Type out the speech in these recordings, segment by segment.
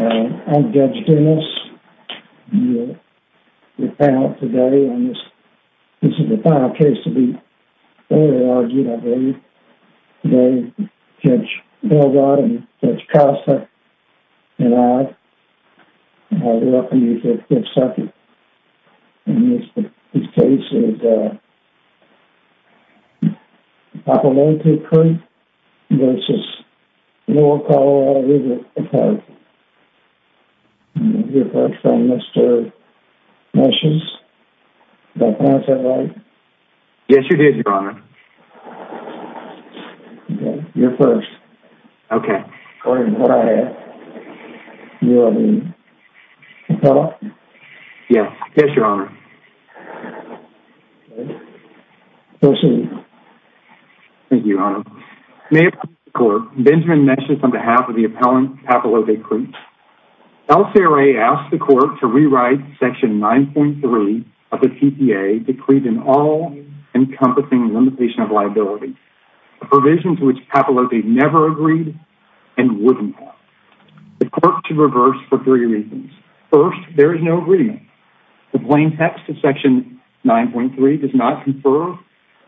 I'm Judge Dennis, your panel today on this, this is the final case of the early RGWA. Today, Judge Belrod and Judge Costa and I are welcoming you to the 5th Circuit. And this case is, uh, Papalote Creek v. Lower Colorado River Attack. We'll hear first from Mr. Messions. Can I pass that mic? Yes, you did, Your Honor. Okay, you're first. Okay. According to what I have, you are the appellant? Yes, yes, Your Honor. Okay, proceed. Thank you, Your Honor. May it please the Court, Benjamin Messions on behalf of the appellant, Papalote Creek. LCRA asked the Court to rewrite Section 9.3 of the TPA, decreed in all encompassing limitation of liability, a provision to which Papalote never agreed and would not. The Court should reverse for three reasons. First, there is no agreement. The plain text of Section 9.3 does not confer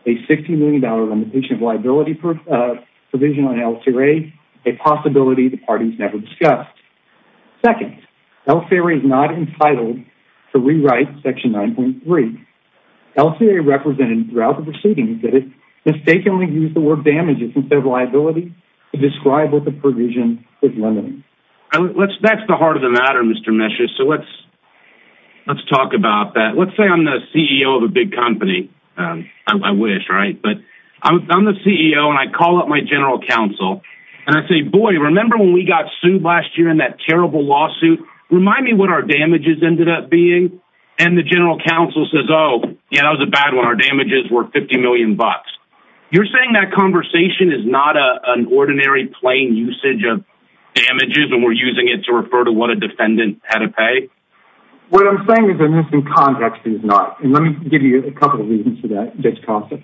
a $60 million limitation of liability provision on LCRA, a possibility the parties never discussed. Second, LCRA is not entitled to rewrite Section 9.3. LCRA represented throughout the proceedings that it mistakenly used the word damages instead of liability to describe what the provision is limiting. That's the heart of the matter, Mr. Messions. So let's talk about that. Let's say I'm the CEO of a big company. I wish, right? But I'm the CEO, and I call up my general counsel, and I say, boy, remember when we got sued last year in that terrible lawsuit? Remind me what our damages ended up being. And the general counsel says, oh, yeah, that was a bad one. Our damages were $50 million. You're saying that conversation is not an ordinary plain usage of damages, and we're using it to refer to what a defendant had to pay? What I'm saying is that this in context is not. And let me give you a couple of reasons for that.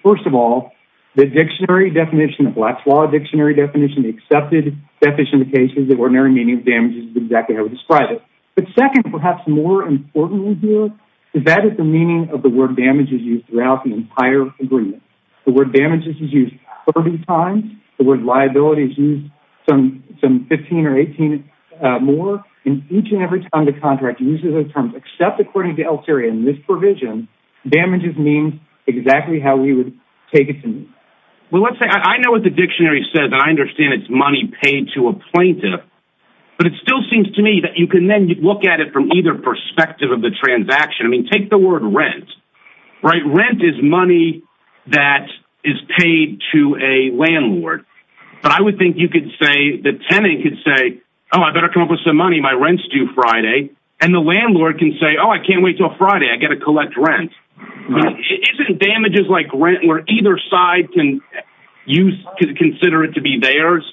First of all, the dictionary definition, the Black's Law dictionary definition, the accepted deficient cases of ordinary meaning of damages is exactly how we describe it. But second, perhaps more importantly here, is that is the meaning of the word damages used throughout the entire agreement. The word damages is used 30 times. The word liability is used some 15 or 18 more. And each and every time the contract uses those terms, except according to Elteria in this provision, damages means exactly how we would take it to mean. Well, let's say I know what the dictionary says, and I understand it's money paid to a plaintiff. But it still seems to me that you can then look at it from either perspective of the transaction. I mean, take the word rent. Rent is money that is paid to a landlord. But I would think you could say, the tenant could say, oh, I better come up with some money. My rent's due Friday. And the landlord can say, oh, I can't wait until Friday. I've got to collect rent. Isn't damages like rent where either side can consider it to be theirs?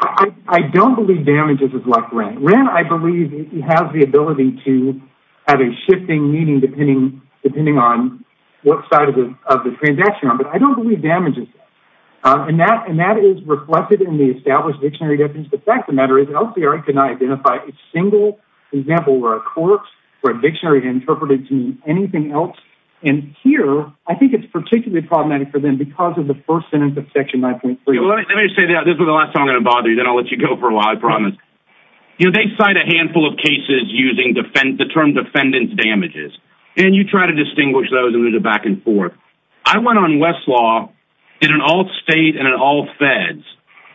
I don't believe damages is like rent. Rent, I believe, has the ability to have a shifting meaning, depending on what side of the transaction you're on. But I don't believe damages. And that is reflected in the established dictionary definition. The fact of the matter is, Elteria could not identify a single example where a corpse or a dictionary interpreted to mean anything else. And here, I think it's particularly problematic for them because of the first sentence of Section 9.3. Let me say that. This is the last time I'm going to bother you. Then I'll let you go for a while. I promise. You know, they cite a handful of cases using the term defendant's damages. And you try to distinguish those and move it back and forth. I went on Westlaw in an alt state and an alt feds,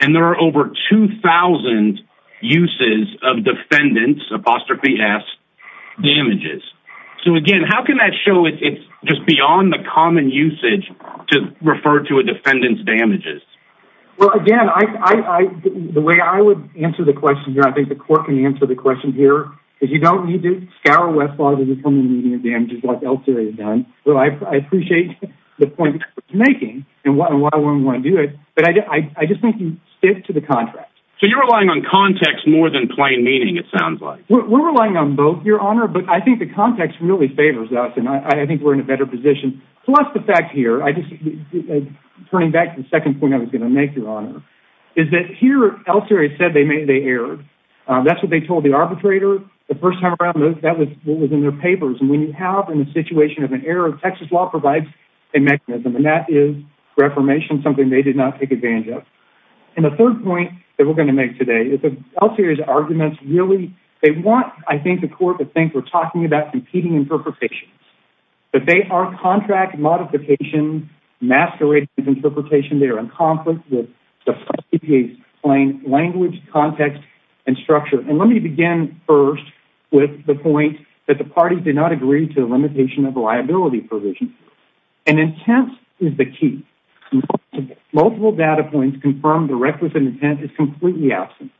and there are over 2,000 uses of defendant's, apostrophe s, damages. So, again, how can that show it's just beyond the common usage to refer to a defendant's damages? Well, again, the way I would answer the question here, I think the court can answer the question here, is you don't need to scour Westlaw to determine the meaning of damages like Elteria has done. But I appreciate the point you're making and why we want to do it. But I just think you stick to the contract. So you're relying on context more than plain meaning, it sounds like. We're relying on both, Your Honor. But I think the context really favors us, and I think we're in a better position. Plus the fact here, turning back to the second point I was going to make, Your Honor, is that here Elteria said they erred. That's what they told the arbitrator the first time around. That was in their papers. And when you have in a situation of an error, Texas law provides a mechanism, and that is reformation, something they did not take advantage of. And the third point that we're going to make today is that Elteria's arguments really, they want, I think, the court to think we're talking about competing interpretations. But they are contract modification masquerading as interpretation. They are in conflict with the plain language, context, and structure. And let me begin first with the point that the parties did not agree to a limitation of liability provision. And intent is the key. Multiple data points confirm the requisite intent is completely absent.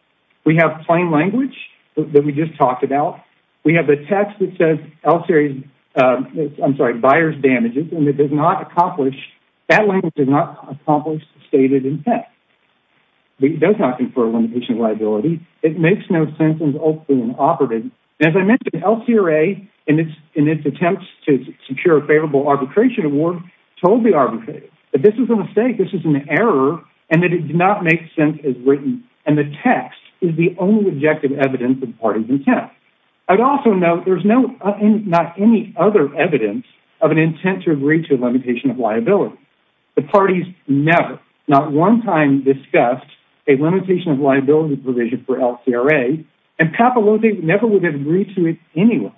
We have plain language that we just talked about. We have the text that says Elteria's, I'm sorry, buyer's damages, and it does not accomplish, that language does not accomplish the stated intent. It does not confer a limitation of liability. It makes no sense and is openly inoperative. As I mentioned, Elteria, in its attempts to secure a favorable arbitration award, told the arbitrator that this is a mistake, this is an error, and that it did not make sense as written. And the text is the only objective evidence of the party's intent. I'd also note there's not any other evidence of an intent to agree to a limitation of liability. The parties never, not one time, discussed a limitation of liability provision for Elteria, and Papaloza never would have agreed to it anyway.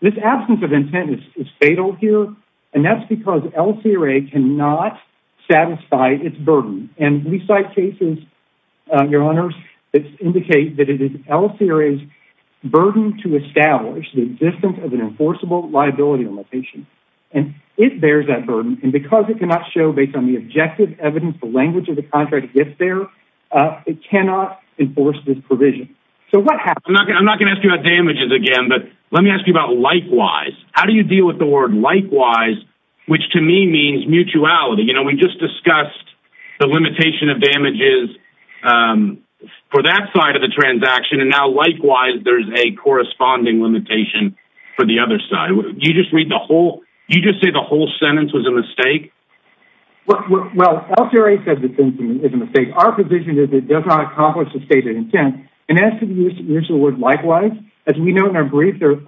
This absence of intent is fatal here, and that's because Elteria cannot satisfy its burden. And we cite cases, Your Honors, that indicate that it is Elteria's burden to establish the existence of an enforceable liability limitation. And it bears that burden, and because it cannot show, based on the objective evidence the language of the contract gets there, it cannot enforce this provision. So what happens? I'm not going to ask you about damages again, but let me ask you about likewise. How do you deal with the word likewise, which to me means mutuality? You know, we just discussed the limitation of damages for that side of the transaction, and now likewise there's a corresponding limitation for the other side. Do you just say the whole sentence was a mistake? Well, Elteria says the sentence is a mistake. Our position is it does not accomplish the stated intent. And as to the use of the word likewise, as we know in our brief, there's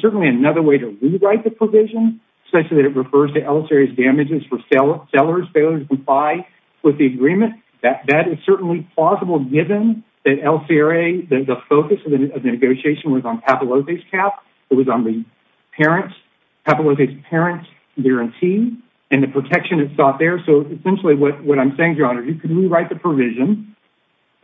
certainly another way to rewrite the provision, such that it refers to Elteria's damages for seller's failure to comply with the agreement. That is certainly plausible, given that Elteria, the focus of the negotiation was on Papalote's cap. It was on Papalote's parent's guarantee and the protection it sought there. So essentially what I'm saying, Your Honor, you can rewrite the provision,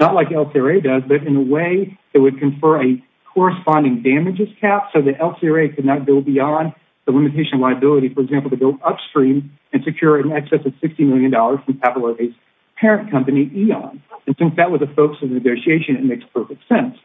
not like Elteria does, but in a way that would confer a corresponding damages cap so that Elteria could not go beyond the limitation of liability, for example, to go upstream and secure in excess of $60 million from Papalote's parent company, Eon. And since that was the focus of the negotiation, it makes perfect sense.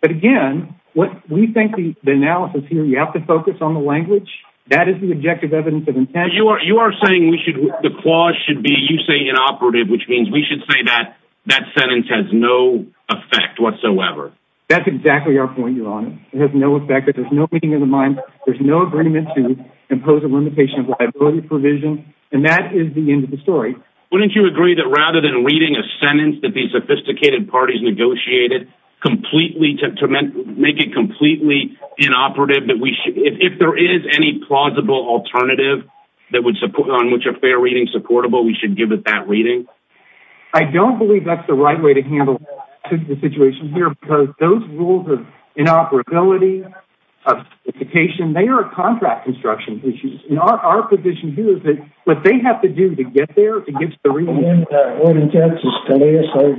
But again, we think the analysis here, you have to focus on the language. That is the objective evidence of intent. You are saying the clause should be, you say, inoperative, which means we should say that that sentence has no effect whatsoever. That's exactly our point, Your Honor. It has no effect. There's no meeting of the mind. There's no agreement to impose a limitation of liability provision. And that is the end of the story. Wouldn't you agree that rather than reading a sentence that these sophisticated parties negotiated to make it completely inoperative, if there is any plausible alternative on which a fair reading is supportable, we should give it that reading? I don't believe that's the right way to handle the situation here because those rules of inoperability, of sophistication, they are contract construction issues. And our position here is that what they have to do to get there, to get to the reading... What intent is to lay aside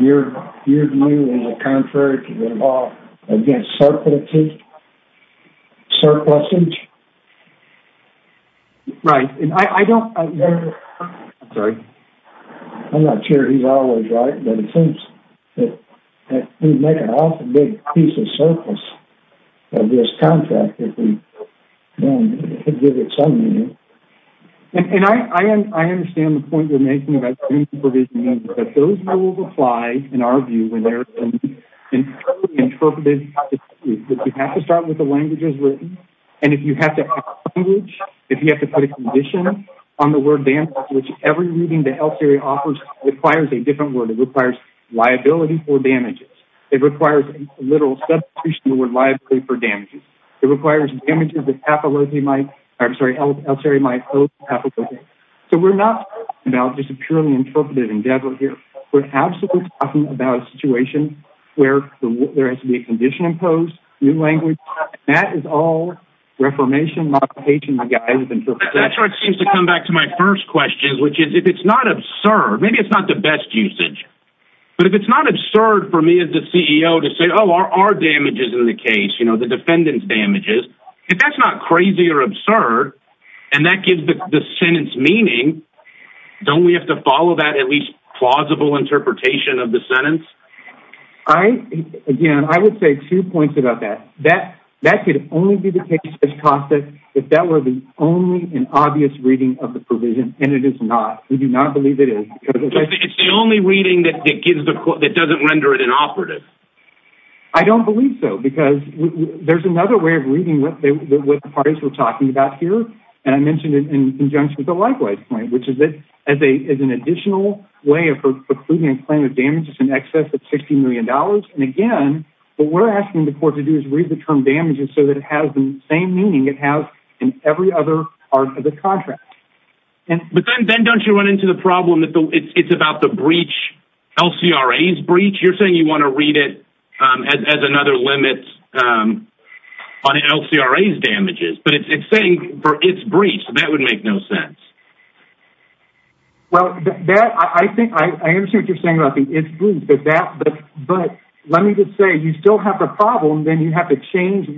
your view in the contract against surplusage? Right. I don't... Sorry. I'm not sure he's always right, but it seems that... It would make an awful big piece of surplus of this contract if we didn't give it some meaning. And I understand the point you're making about the reading provision, but those rules apply, in our view, when they're interpreted... You have to start with the languages written, and if you have to have a language, if you have to put a condition on the word damage, which every reading the health area offers requires a different word. It requires liability for damages. It requires a literal substitution of the word liability for damages. It requires damages that pathology might... I'm sorry, health area might pose to pathology. So we're not talking about just a purely interpretive endeavor here. We're absolutely talking about a situation where there has to be a condition imposed, new language, and that is all reformation, modification, my guy has interpreted. That's where it seems to come back to my first question, which is if it's not absurd, maybe it's not the best usage, but if it's not absurd for me as the CEO to say, oh, there are damages in the case, you know, the defendant's damages, if that's not crazy or absurd, and that gives the sentence meaning, don't we have to follow that at least plausible interpretation of the sentence? Again, I would say two points about that. That could only be the case if that were the only and obvious reading of the provision, and it is not. We do not believe it is. It's the only reading that doesn't render it inoperative. I don't believe so, because there's another way of reading what the parties were talking about here, and I mentioned it in conjunction with the likewise claim, which is that as an additional way of precluding a claim of damages in excess of $60 million, and again, what we're asking the court to do is read the term damages so that it has the same meaning it has in every other part of the contract. But then don't you run into the problem that it's about the breach, LCRA's breach? You're saying you want to read it as another limit on LCRA's damages, but it's saying for its breach, so that would make no sense. Well, I understand what you're saying about the its breach, but let me just say you still have the problem, then you have to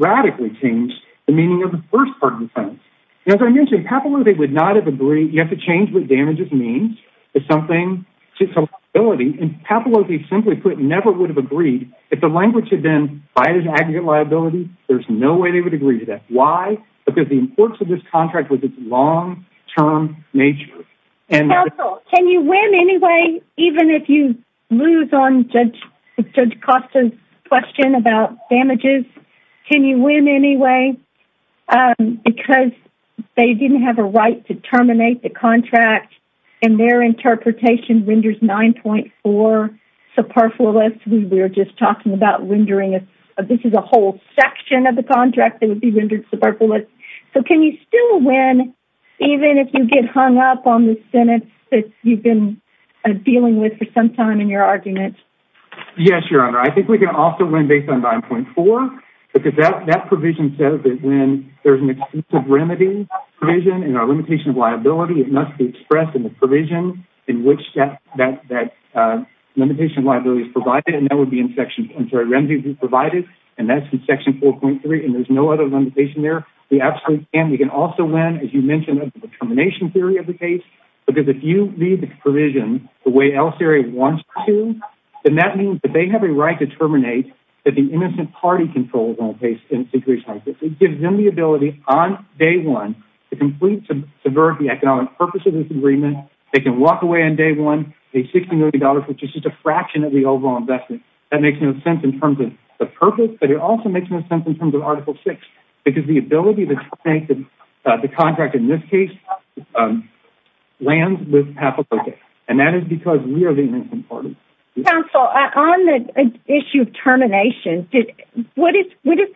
radically change the meaning of the first part of the sentence. As I mentioned, Papalozzi would not have agreed. You have to change what damages means. It's something, it's a liability, and Papalozzi, simply put, never would have agreed. If the language had been, buy it as an aggregate liability, there's no way they would agree to that. Why? Because the importance of this contract was its long-term nature. Counsel, can you win anyway, even if you lose on Judge Costa's question about damages? Can you win anyway? Because they didn't have a right to terminate the contract, and their interpretation renders 9.4 superfluous. We were just talking about rendering it. This is a whole section of the contract that would be rendered superfluous. So can you still win even if you get hung up on the sentence that you've been dealing with for some time in your argument? Yes, Your Honor. I think we can also win based on 9.4, because that provision says that when there's an exclusive remedy provision and a limitation of liability, it must be expressed in the provision in which that limitation of liability is provided, and that would be in section 4.3, and there's no other limitation there. We absolutely can. We can also win, as you mentioned, under the termination theory of the case, because if you leave the provision the way Elseary wants to, then that means that they have a right to terminate that the innocent party controls on the case. It gives them the ability on day one to complete and subvert the economic purpose of this agreement. They can walk away on day one with $60 million, which is just a fraction of the overall investment. That makes no sense in terms of the purpose, but it also makes no sense in terms of Article 6, because the ability to terminate the contract in this case lands with half a vote there, and that is because we are the innocent party. Counsel, on the issue of termination, what is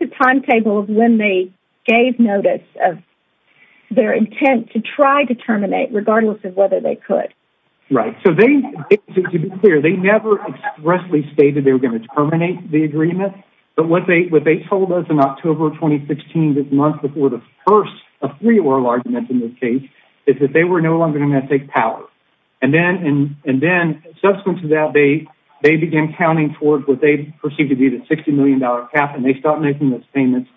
the timetable of when they gave notice of their intent to try to terminate, regardless of whether they could? Right. So to be clear, they never expressly stated they were going to terminate the agreement, but what they told us in October 2016, the month before the first of three oral arguments in this case, is that they were no longer going to take power, and then subsequent to that, they began counting towards what they perceived to be the $60 million cap, and they stopped making those payments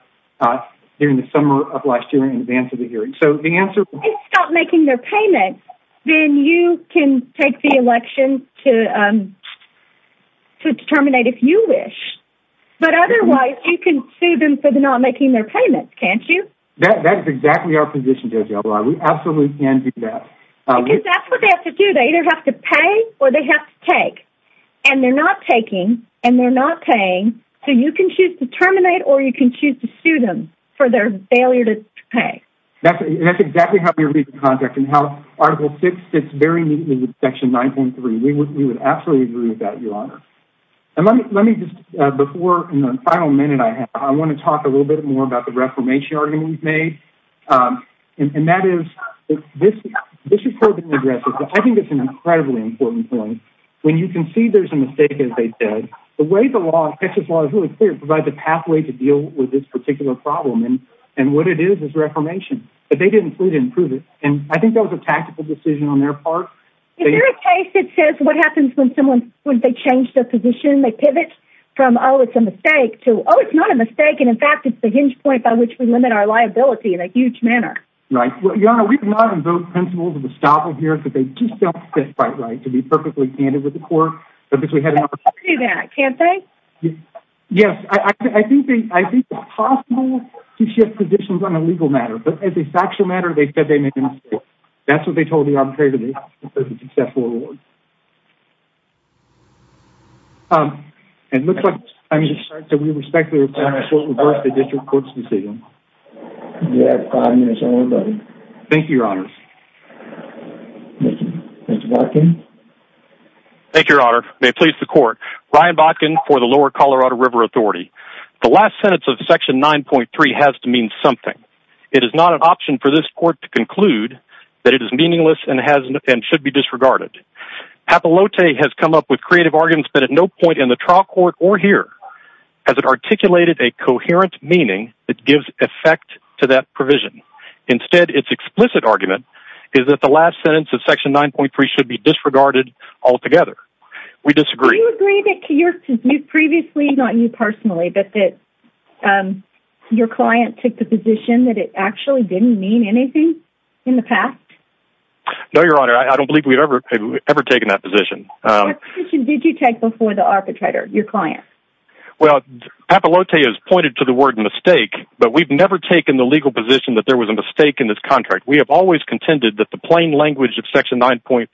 during the summer of last year in advance of the hearing. So the answer is... If they stop making their payments, then you can take the election to terminate if you wish, but otherwise you can sue them for not making their payments, can't you? That is exactly our position, JoJo. We absolutely can do that. Because that's what they have to do. They either have to pay or they have to take, and they're not taking and they're not paying, so you can choose to terminate or you can choose to sue them for their failure to pay. That's exactly how we're reaching contact and how Article VI fits very neatly with Section 9.3. We would absolutely agree with that, Your Honor. And let me just, before, in the final minute I have, I want to talk a little bit more about the reformation argument we've made, and that is, this has probably been addressed, but I think it's an incredibly important point. When you concede there's a mistake, as they said, the way the law, Texas law is really clear, provides a pathway to deal with this particular problem, and what it is is reformation. But they didn't prove it, and I think that was a tactical decision on their part. Is there a case that says what happens when someone, when they change their position, they pivot from, oh, it's a mistake, to, oh, it's not a mistake, and in fact it's the hinge point by which we limit our liability in a huge manner? Right. Well, Your Honor, we do not invoke principles of estoppel here, because they just don't fit quite right to be perfectly candid with the court. But because we had enough... They can't do that, can't they? Yes. I think it's possible to shift positions on a legal matter, but as a factual matter, they said they made a mistake. That's what they told the arbitrator. They said it was a successful award. It looks like, I'm sorry, that we respect the request of the district court's decision. You have five minutes, everybody. Thank you, Your Honor. Thank you. Mr. Botkin? Thank you, Your Honor. May it please the court. Ryan Botkin for the Lower Colorado River Authority. The last sentence of Section 9.3 has to mean something. It is not an option for this court to conclude that it is meaningless and should be disregarded. Apollote has come up with creative arguments, but at no point in the trial court or here has it articulated a coherent meaning that gives effect to that provision. Instead, its explicit argument is that the last sentence of Section 9.3 should be disregarded altogether. We disagree. Do you agree that previously, not you personally, but that your client took the position that it actually didn't mean anything in the past? No, Your Honor. I don't believe we've ever taken that position. What position did you take before the arbitrator, your client? Well, Apollote has pointed to the word mistake, but we've never taken the legal position that there was a mistake in this contract. We have always contended that the plain language of Section 9.3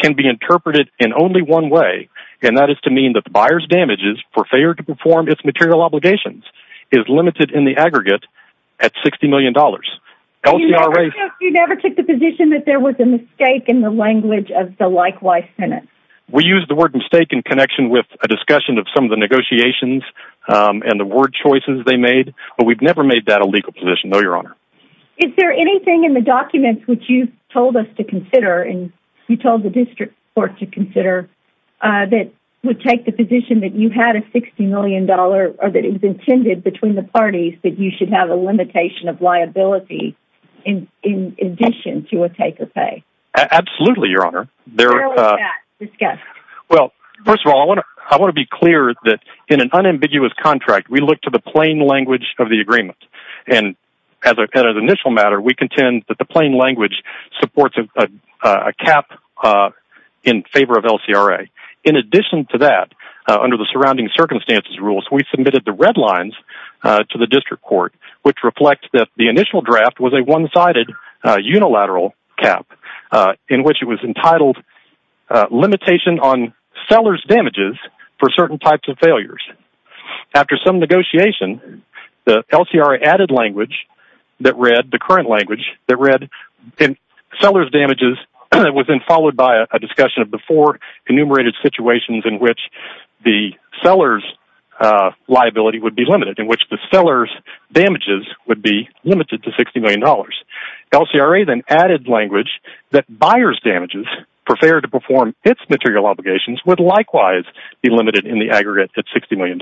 can be interpreted in only one way, and that is to mean that the buyer's damages for failure to perform its material obligations is limited in the aggregate at $60 million. You never took the position that there was a mistake in the language of the likewise sentence? We use the word mistake in connection with a discussion of some of the negotiations and the word choices they made, but we've never made that a legal position, no, Your Honor. Is there anything in the documents which you've told us to consider and you told the district court to consider that would take the position that you had a $60 million or that it was intended between the parties that you should have a limitation of liability in addition to a take or pay? Absolutely, Your Honor. Where was that discussed? Well, first of all, I want to be clear that in an unambiguous contract, we look to the plain language of the agreement, and as a matter of initial matter, we contend that the plain language supports a cap in favor of LCRA. In addition to that, under the surrounding circumstances rules, we submitted the red lines to the district court, which reflect that the initial draft was a one-sided unilateral cap in which it was entitled Limitation on Sellers' Damages for Certain Types of Failures. After some negotiation, the LCRA added language that read, the current language that read, Sellers' Damages was then followed by a discussion of the four enumerated situations in which the sellers' liability would be limited, in which the sellers' damages would be limited to $60 million. LCRA then added language that buyers' damages, prepared to perform its material obligations, would likewise be limited in the aggregate at $60 million.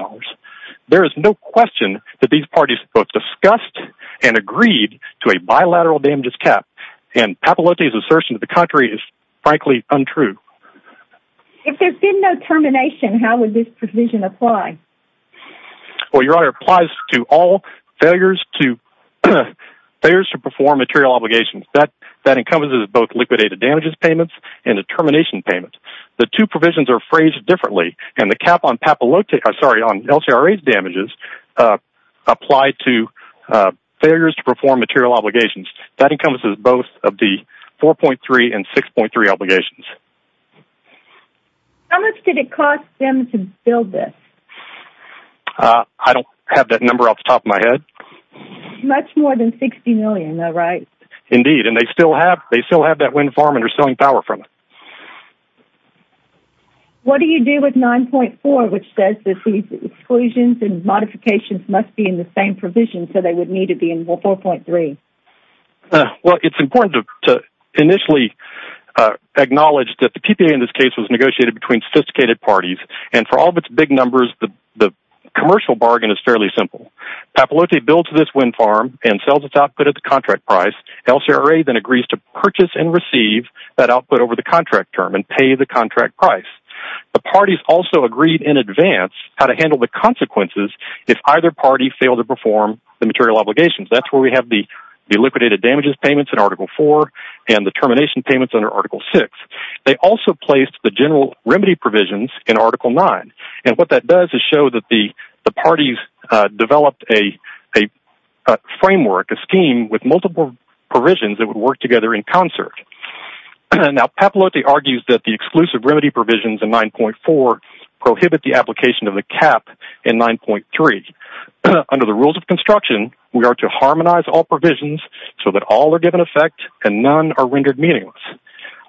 There is no question that these parties both discussed and agreed to a bilateral damages cap, and Papalote's assertion to the contrary is frankly untrue. If there had been no termination, how would this provision apply? Well, Your Honor, it applies to all failures to perform material obligations. That encompasses both liquidated damages payments and a termination payment. The two provisions are phrased differently, and the cap on LCRA's damages applied to failures to perform material obligations. That encompasses both of the 4.3 and 6.3 obligations. How much did it cost them to build this? I don't have that number off the top of my head. Much more than $60 million, though, right? Indeed, and they still have that wind farm and are selling power from it. What do you do with 9.4, which says that these exclusions and modifications must be in the same provision, so they would need to be in 4.3? Well, it's important to initially acknowledge that the PPA in this case was negotiated between sophisticated parties, and for all of its big numbers, the commercial bargain is fairly simple. Papalote builds this wind farm and sells its output at the contract price. LCRA then agrees to purchase and receive that output over the contract term and pay the contract price. The parties also agreed in advance how to handle the consequences if either party failed to perform the material obligations. That's where we have the liquidated damages payments in Article 4 and the termination payments under Article 6. They also placed the general remedy provisions in Article 9, and what that does is show that the parties developed a framework, a scheme with multiple provisions that would work together in concert. Now, Papalote argues that the exclusive remedy provisions in 9.4 prohibit the application of the cap in 9.3. Under the rules of construction, we are to harmonize all provisions so that all are given effect and none are rendered meaningless.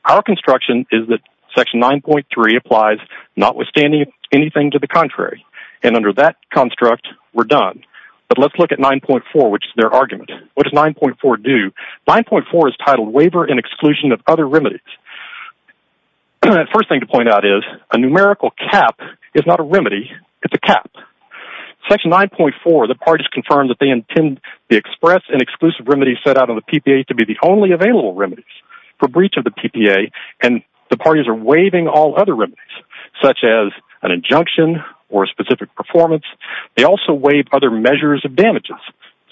Our construction is that Section 9.3 applies notwithstanding anything to the contrary, and under that construct, we're done. But let's look at 9.4, which is their argument. What does 9.4 do? 9.4 is titled Waiver and Exclusion of Other Remedies. The first thing to point out is a numerical cap is not a remedy, it's a cap. In Section 9.4, the parties confirm that they intend the express and exclusive remedies set out on the PPA to be the only available remedies for breach of the PPA, and the parties are waiving all other remedies, such as an injunction or a specific performance. They also waive other measures of damages,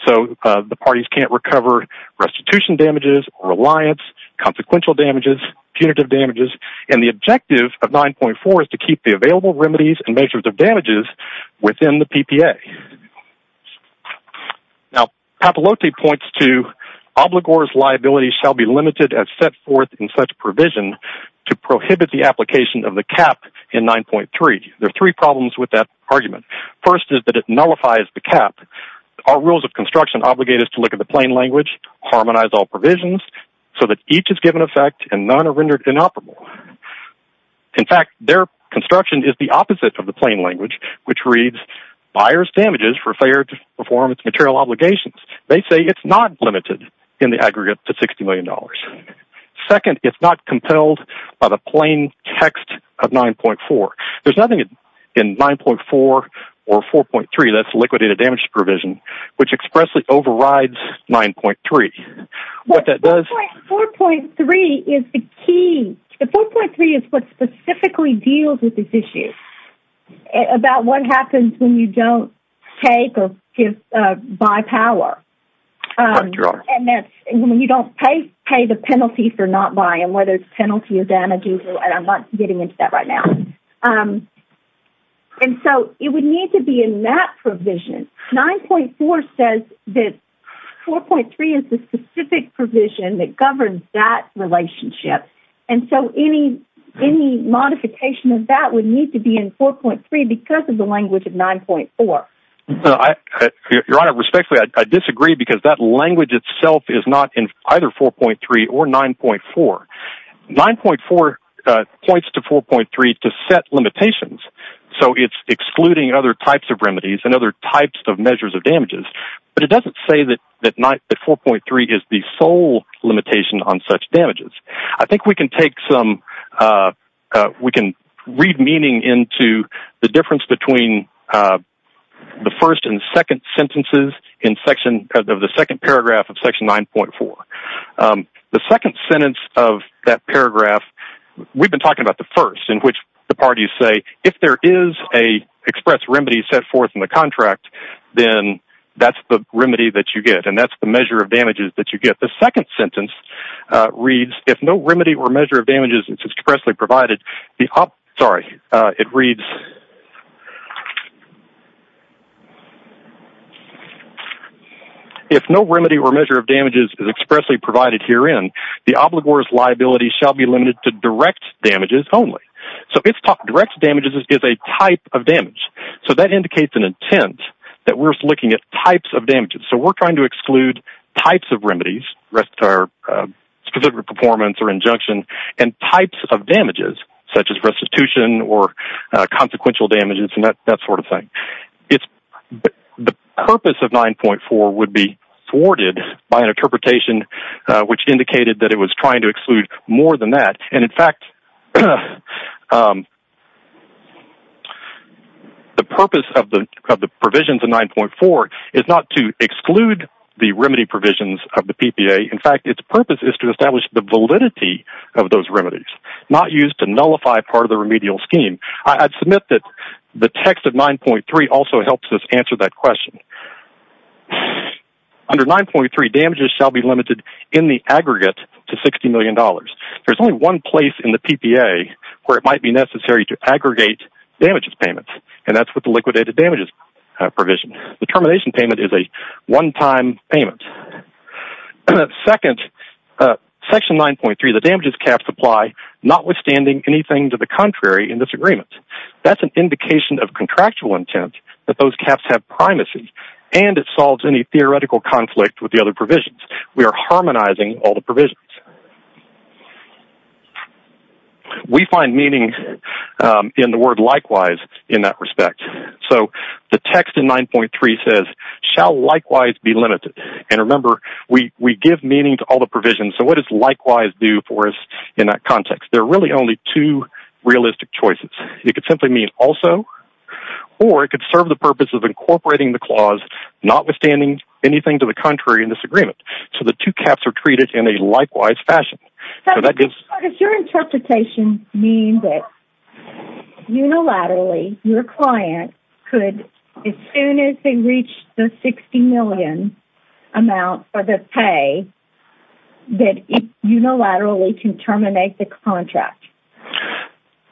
so the parties can't recover restitution damages or reliance, consequential damages, punitive damages, and the objective of 9.4 is to keep the available remedies and measures of damages within the PPA. Now, Papalote points to Obligor's liability shall be limited as set forth in such provision to prohibit the application of the cap in 9.3. There are three problems with that argument. First is that it nullifies the cap. Our rules of construction obligate us to look at the plain language, harmonize all provisions, so that each is given effect and none are rendered inoperable. In fact, their construction is the opposite of the plain language, which reads, Buyers damages for fair performance material obligations. They say it's not limited in the aggregate to $60 million. Second, it's not compelled by the plain text of 9.4. There's nothing in 9.4 or 4.3 that's liquidated damage provision, which expressly overrides 9.3. What that does... 4.3 is the key. The 4.3 is what specifically deals with this issue, about what happens when you don't take or buy power. Right, Your Honor. And when you don't pay, pay the penalty for not buying, whether it's penalty of damages, and I'm not getting into that right now. And so it would need to be in that provision. 9.4 says that 4.3 is the specific provision that governs that relationship. And so any modification of that would need to be in 4.3 because of the language of 9.4. Your Honor, respectfully, I disagree, because that language itself is not in either 4.3 or 9.4. 9.4 points to 4.3 to set limitations. So it's excluding other types of remedies and other types of measures of damages. But it doesn't say that 4.3 is the sole limitation on such damages. I think we can take some... We can read meaning into the difference between the first and second sentences of the second paragraph of Section 9.4. The second sentence of that paragraph, we've been talking about the first, in which the parties say, if there is an express remedy set forth in the contract, then that's the remedy that you get, and that's the measure of damages that you get. The second sentence reads, if no remedy or measure of damages is expressly provided... Sorry, it reads... If no remedy or measure of damages is expressly provided herein, the obligor's liability shall be limited to direct damages only. So if direct damages is a type of damage, so that indicates an intent that we're looking at types of damages. So we're trying to exclude types of remedies, specific performance or injunction, and types of damages, such as restitution or consequential damages and that sort of thing. The purpose of 9.4 would be thwarted by an interpretation which indicated that it was trying to exclude more than that, and in fact, the purpose of the provisions of 9.4 is not to exclude the remedy provisions of the PPA. In fact, its purpose is to establish the validity of those remedies, not used to nullify part of the remedial scheme. I'd submit that the text of 9.3 also helps us answer that question. Under 9.3, damages shall be limited in the aggregate to $60 million. There's only one place in the PPA where it might be necessary to aggregate damages payments, and that's with the liquidated damages provision. The termination payment is a one-time payment. Second, Section 9.3, the damages caps apply, notwithstanding anything to the contrary in this agreement. That's an indication of contractual intent that those caps have primacy, and it solves any theoretical conflict with the other provisions. We are harmonizing all the provisions. We find meaning in the word likewise in that respect. So the text in 9.3 says, shall likewise be limited, and remember, we give meaning to all the provisions, so what does likewise do for us in that context? There are really only two realistic choices. It could simply mean also, or it could serve the purpose of incorporating the clause, notwithstanding anything to the contrary in this agreement. So the two caps are treated in a likewise fashion. Does your interpretation mean that unilaterally, your client could, as soon as they reach the $60 million amount for the pay, that unilaterally can terminate the contract?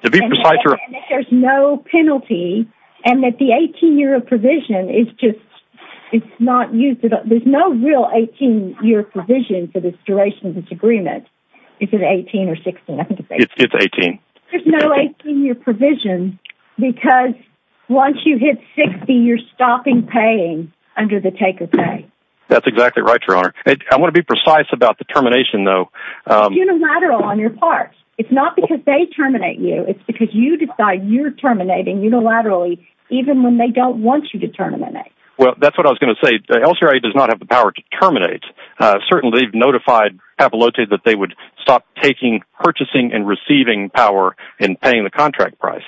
To be precise, Your Honor. And that there's no penalty, and that the 18-year provision is just not used. There's no real 18-year provision for this duration of this agreement. Is it 18 or 16? I think it's 18. It's 18. There's no 18-year provision, because once you hit 60, you're stopping paying under the take of pay. That's exactly right, Your Honor. I want to be precise about the termination, though. It's unilateral on your part. It's not because they terminate you. It's because you decide you're terminating unilaterally, even when they don't want you to terminate. Well, that's what I was going to say. The LRA does not have the power to terminate. Certainly, they've notified Papalote that they would stop purchasing and receiving power and paying the contract price.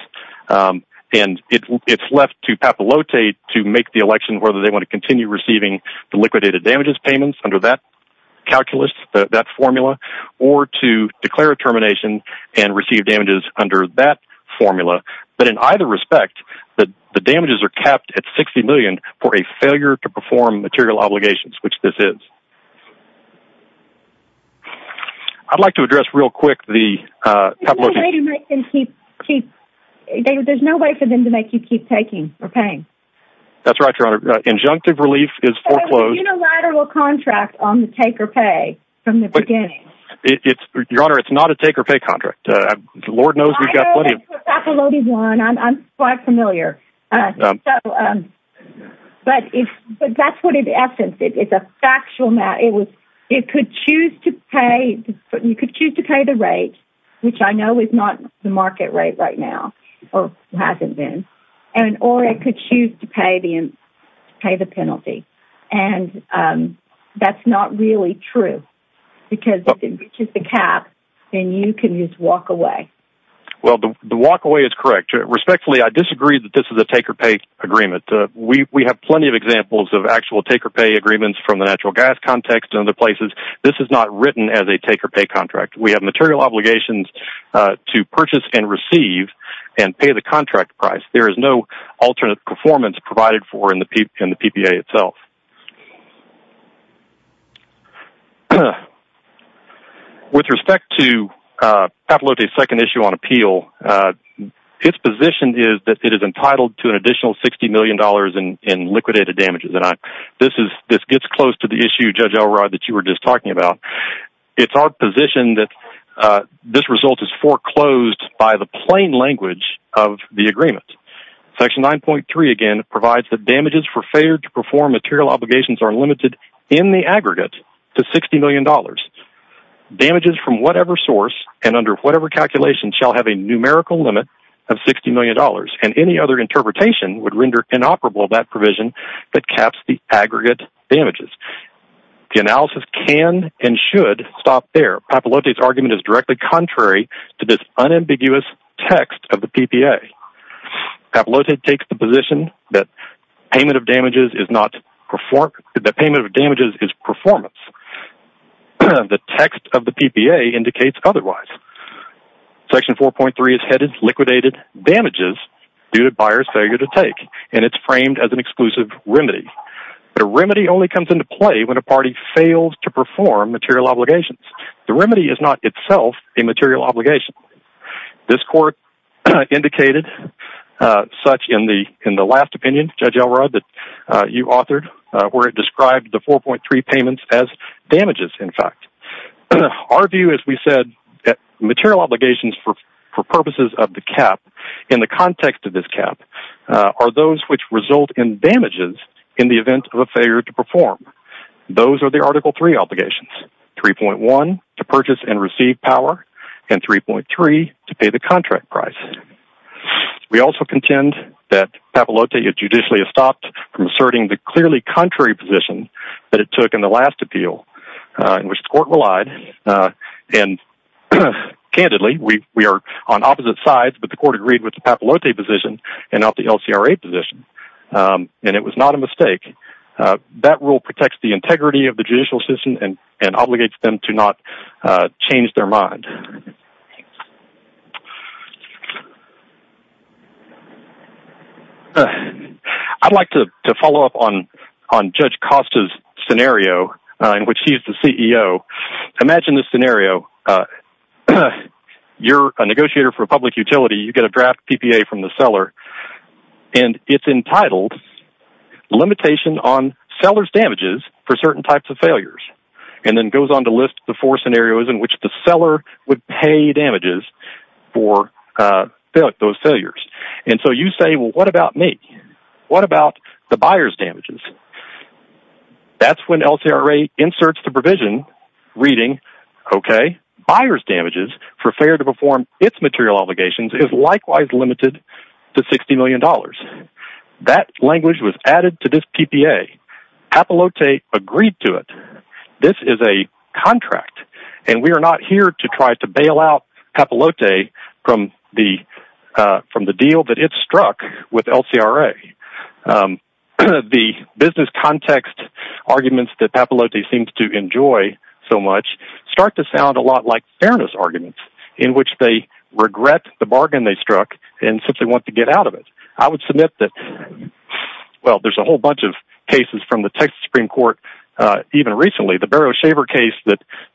And it's left to Papalote to make the election whether they want to continue receiving the liquidated damages payments under that calculus, that formula, or to declare a termination and receive damages under that formula. But in either respect, the damages are capped at $60 million for a failure to perform material obligations, which this is. I'd like to address real quick the Papalote... There's no way to make them keep... There's no way for them to make you keep taking or paying. That's right, Your Honor. The injunctive relief is foreclosed. It's a unilateral contract on the take or pay from the beginning. Your Honor, it's not a take or pay contract. The Lord knows we've got plenty of... I know the Papalote one. I'm quite familiar. But that's what it is. It's a factual matter. It could choose to pay the rate, which I know is not the market rate right now, or hasn't been. Or it could choose to pay the penalty. And that's not really true because if it reaches the cap, then you can just walk away. Well, the walk away is correct. Respectfully, I disagree that this is a take or pay agreement. We have plenty of examples of actual take or pay agreements from the natural gas context and other places. This is not written as a take or pay contract. We have material obligations to purchase and receive and pay the contract price. There is no alternate performance provided for in the PPA itself. With respect to Papalote's second issue on appeal, its position is that it is entitled to an additional $60 million in liquidated damages. This gets close to the issue, Judge Elrod, that you were just talking about. It's our position that this result is foreclosed by the plain language of the agreement. Section 9.3, again, provides that damages for failure to perform material obligations are limited in the aggregate to $60 million. Damages from whatever source and under whatever calculation shall have a numerical limit of $60 million. And any other interpretation would render inoperable that provision that caps the aggregate damages. The analysis can and should stop there. Papalote's argument is directly contrary to this unambiguous text of the PPA. Papalote takes the position that payment of damages is performance. The text of the PPA indicates otherwise. Section 4.3 is headed liquidated damages due to buyer's failure to take, and it's framed as an exclusive remedy. But a remedy only comes into play when a party fails to perform material obligations. The remedy is not itself a material obligation. This court indicated such in the last opinion, Judge Elrod, that you authored where it described the 4.3 payments as damages, in fact. Our view is we said that material obligations for purposes of the cap in the context of this cap are those which result in damages in the event of a failure to perform. Those are the Article 3 obligations, 3.1 to purchase and receive power and 3.3 to pay the contract price. We also contend that Papalote had judicially stopped from asserting the clearly contrary position that it took in the last appeal, in which the court relied. And candidly, we are on opposite sides, but the court agreed with the Papalote position and not the LCRA position. And it was not a mistake. That rule protects the integrity of the judicial system and obligates them to not change their mind. I'd like to follow up on Judge Costa's scenario, in which she's the CEO. Imagine this scenario. You're a negotiator for a public utility. You get a draft PPA from the seller, and it's entitled, Limitation on Seller's Damages for Certain Types of Failures, and then goes on to list the four scenarios in which the seller would pay damages for those failures. And so you say, well, what about me? What about the buyer's damages? That's when LCRA inserts the provision reading, okay, buyer's damages for failure to perform its material obligations is likewise limited to $60 million. That language was added to this PPA. Papalote agreed to it. This is a contract, and we are not here to try to bail out Papalote from the deal that it struck with LCRA. The business context arguments that Papalote seems to enjoy so much start to sound a lot like fairness arguments, in which they regret the bargain they struck and simply want to get out of it. I would submit that, well, there's a whole bunch of cases from the Texas Supreme Court, even recently, the Barrow-Shaver case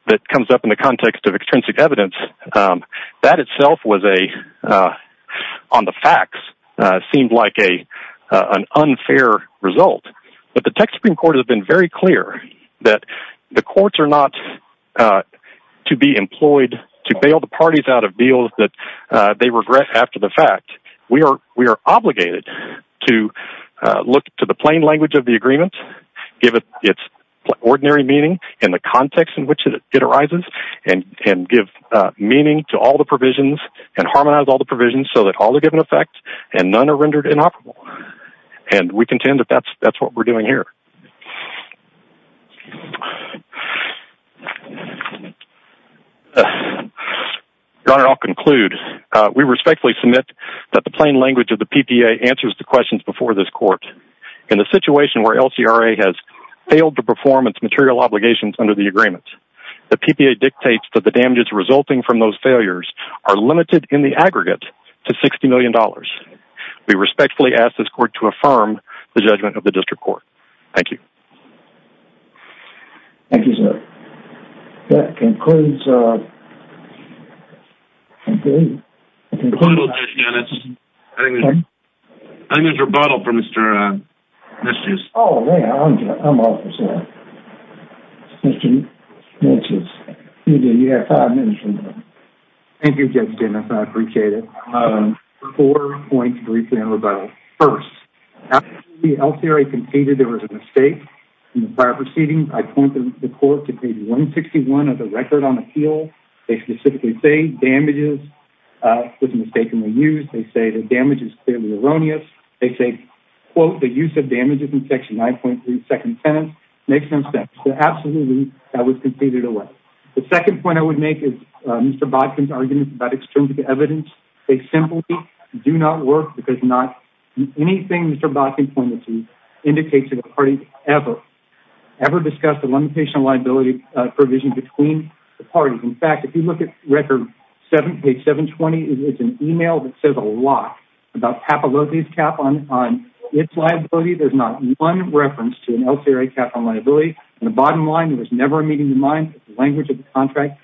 that comes up in the context of extrinsic evidence, that itself was a, on the facts, seemed like an unfair result. But the Texas Supreme Court has been very clear that the courts are not to be employed to bail the parties out of deals that they regret after the fact. We are obligated to look to the plain language of the agreement, give it its ordinary meaning in the context in which it arises, and give meaning to all the provisions and harmonize all the provisions so that all are given effect and none are rendered inoperable. And we contend that that's what we're doing here. Your Honor, I'll conclude. We respectfully submit that the plain language of the PPA answers the questions before this court. In a situation where LCRA has failed to perform its material obligations under the agreement, the PPA dictates that the damages resulting from those failures are limited in the aggregate to $60 million. We respectfully ask this court to affirm the judgment of the district court. Thank you. Thank you, sir. That concludes. I think there's a rebuttal from Mr. Thank you. I appreciate it. Rebuttal first. The LCRA conceded there was a mistake in the prior proceedings. I pointed the court to page 161 of the record on appeal. They specifically say damages was mistakenly used. They say the damage is clearly erroneous. They say, quote, the use of damages in section 9.3 second sentence makes no sense. So absolutely. That was conceded away. The second point I would make is Mr. Bodkin's argument about extrinsic evidence. It's simply do not work because not anything. Mr. Bodkin pointed to indicate to the party ever, ever discussed the limitation of liability provision between the parties. In fact, if you look at record seven, page seven 20, it's an email that says a lot about half of these cap on, on its liability. There's not one reference to an LCRA cap on liability. And the bottom line was never a meeting in mind. The language of the contract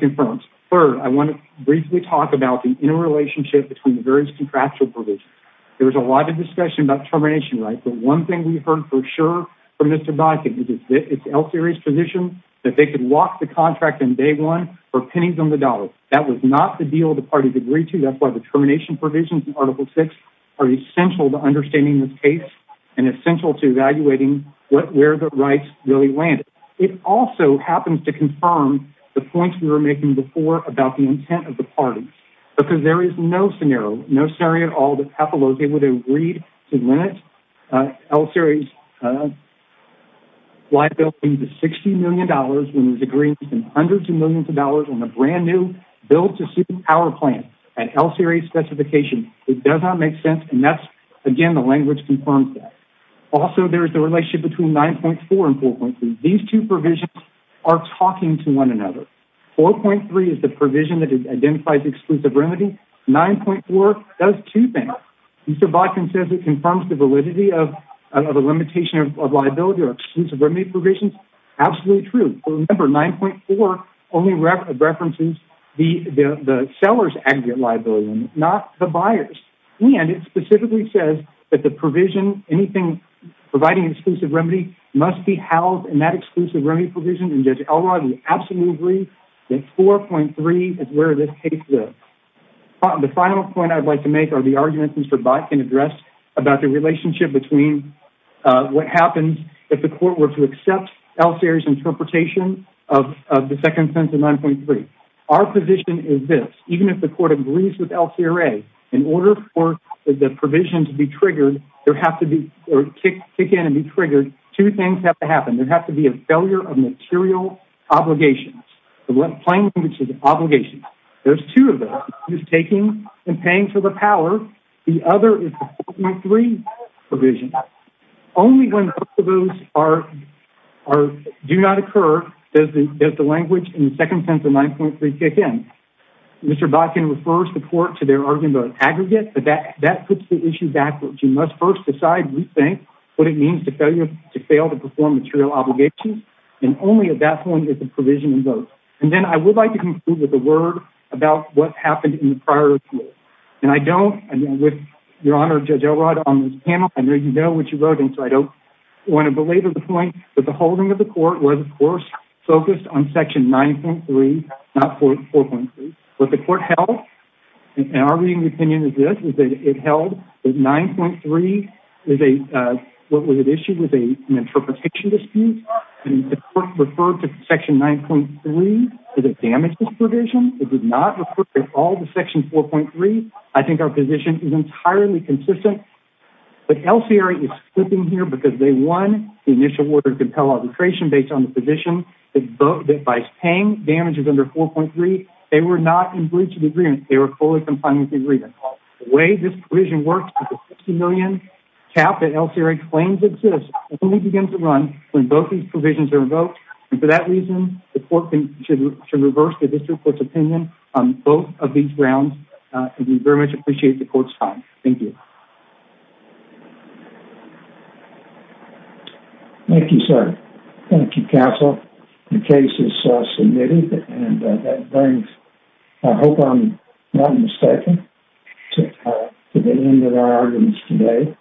confirms. Third, I want to briefly talk about the interrelationship between the various contractual provisions. There was a lot of discussion about termination, right? But one thing we heard for sure from Mr. Bodkin, it's LCRA's position that they could walk the contract in day one or pennies on the dollar. That was not the deal. The parties agreed to that's why the termination provisions in article six are essential to understanding this case and essential to evaluating what, where the rights really landed. It also happens to confirm the points we were making before about the intent of the parties, because there is no scenario, no scenario at all. The pathology would have agreed to limit, uh, LCRA's, uh, liability to $60 million when it was agreed to hundreds of millions of dollars on the brand new bill to super power plant at LCRA specification. It does not make sense. And that's again, the language confirms that also there's the relationship between 9.4 and 4.3. These two provisions are talking to one another. 4.3 is the provision that identifies exclusive remedy. 9.4 does two things. Mr. Bodkin says it confirms the validity of, of a limitation of liability or exclusive remedy provisions. Absolutely true. Remember 9.4 only references the, the, the seller's aggregate liability, not the buyers. And it specifically says that the provision, anything providing exclusive remedy must be housed in that exclusive remedy provision. And judge Elrod, you absolutely agree that 4.3 is where this case is. The final point I'd like to make are the arguments Mr. Botkin addressed about the relationship between, uh, what happens if the court were to accept LCRA's interpretation of, of the second sentence of 9.3. Our position is this, even if the court agrees with LCRA in order for the provision to be triggered, there has to be or kick, kick in and be triggered. Two things have to happen. There has to be a failure of material obligations. The left plane, which is obligation. There's two of them is taking and paying for the power. The other is three provision. Only when those are, are, do not occur. Does the, does the language in the second sense of 9.3 kick in Mr. Botkin refers the court to their argument, both aggregate, but that, that puts the issue backwards. You must first decide, rethink what it means to failure to fail to perform material obligations. And only at that point is the provision in both. And then I would like to conclude with a word about what happened in the prior. And I don't, and with your honor, judge Elrod on this panel, I know you know what you wrote. And so I don't want to belabor the point that the holding of the court was of course focused on section 9.3, not 4.3, but the court held. And our reading opinion is this, is that it held the 9.3. Is a, uh, what was an issue with a, an interpretation dispute referred to section 9.3. Is it damaged this provision? It did not report all the section 4.3. I think our position is entirely consistent, but LCR is slipping here because they won the initial order to compel arbitration based on the position. It's both that by paying damages under 4.3, they were not in breach of the agreement. They were fully compliant with the agreement. The way this provision works, the $60 million cap that LCR claims exists only begins to run when both these provisions are revoked. And for that reason, the court should reverse the district court's opinion on both of these grounds. And we very much appreciate the court's time. Thank you. Thank you, sir. Thank you, counsel. The case is submitted. And that brings, I hope I'm not mistaken. To the end of our arguments today.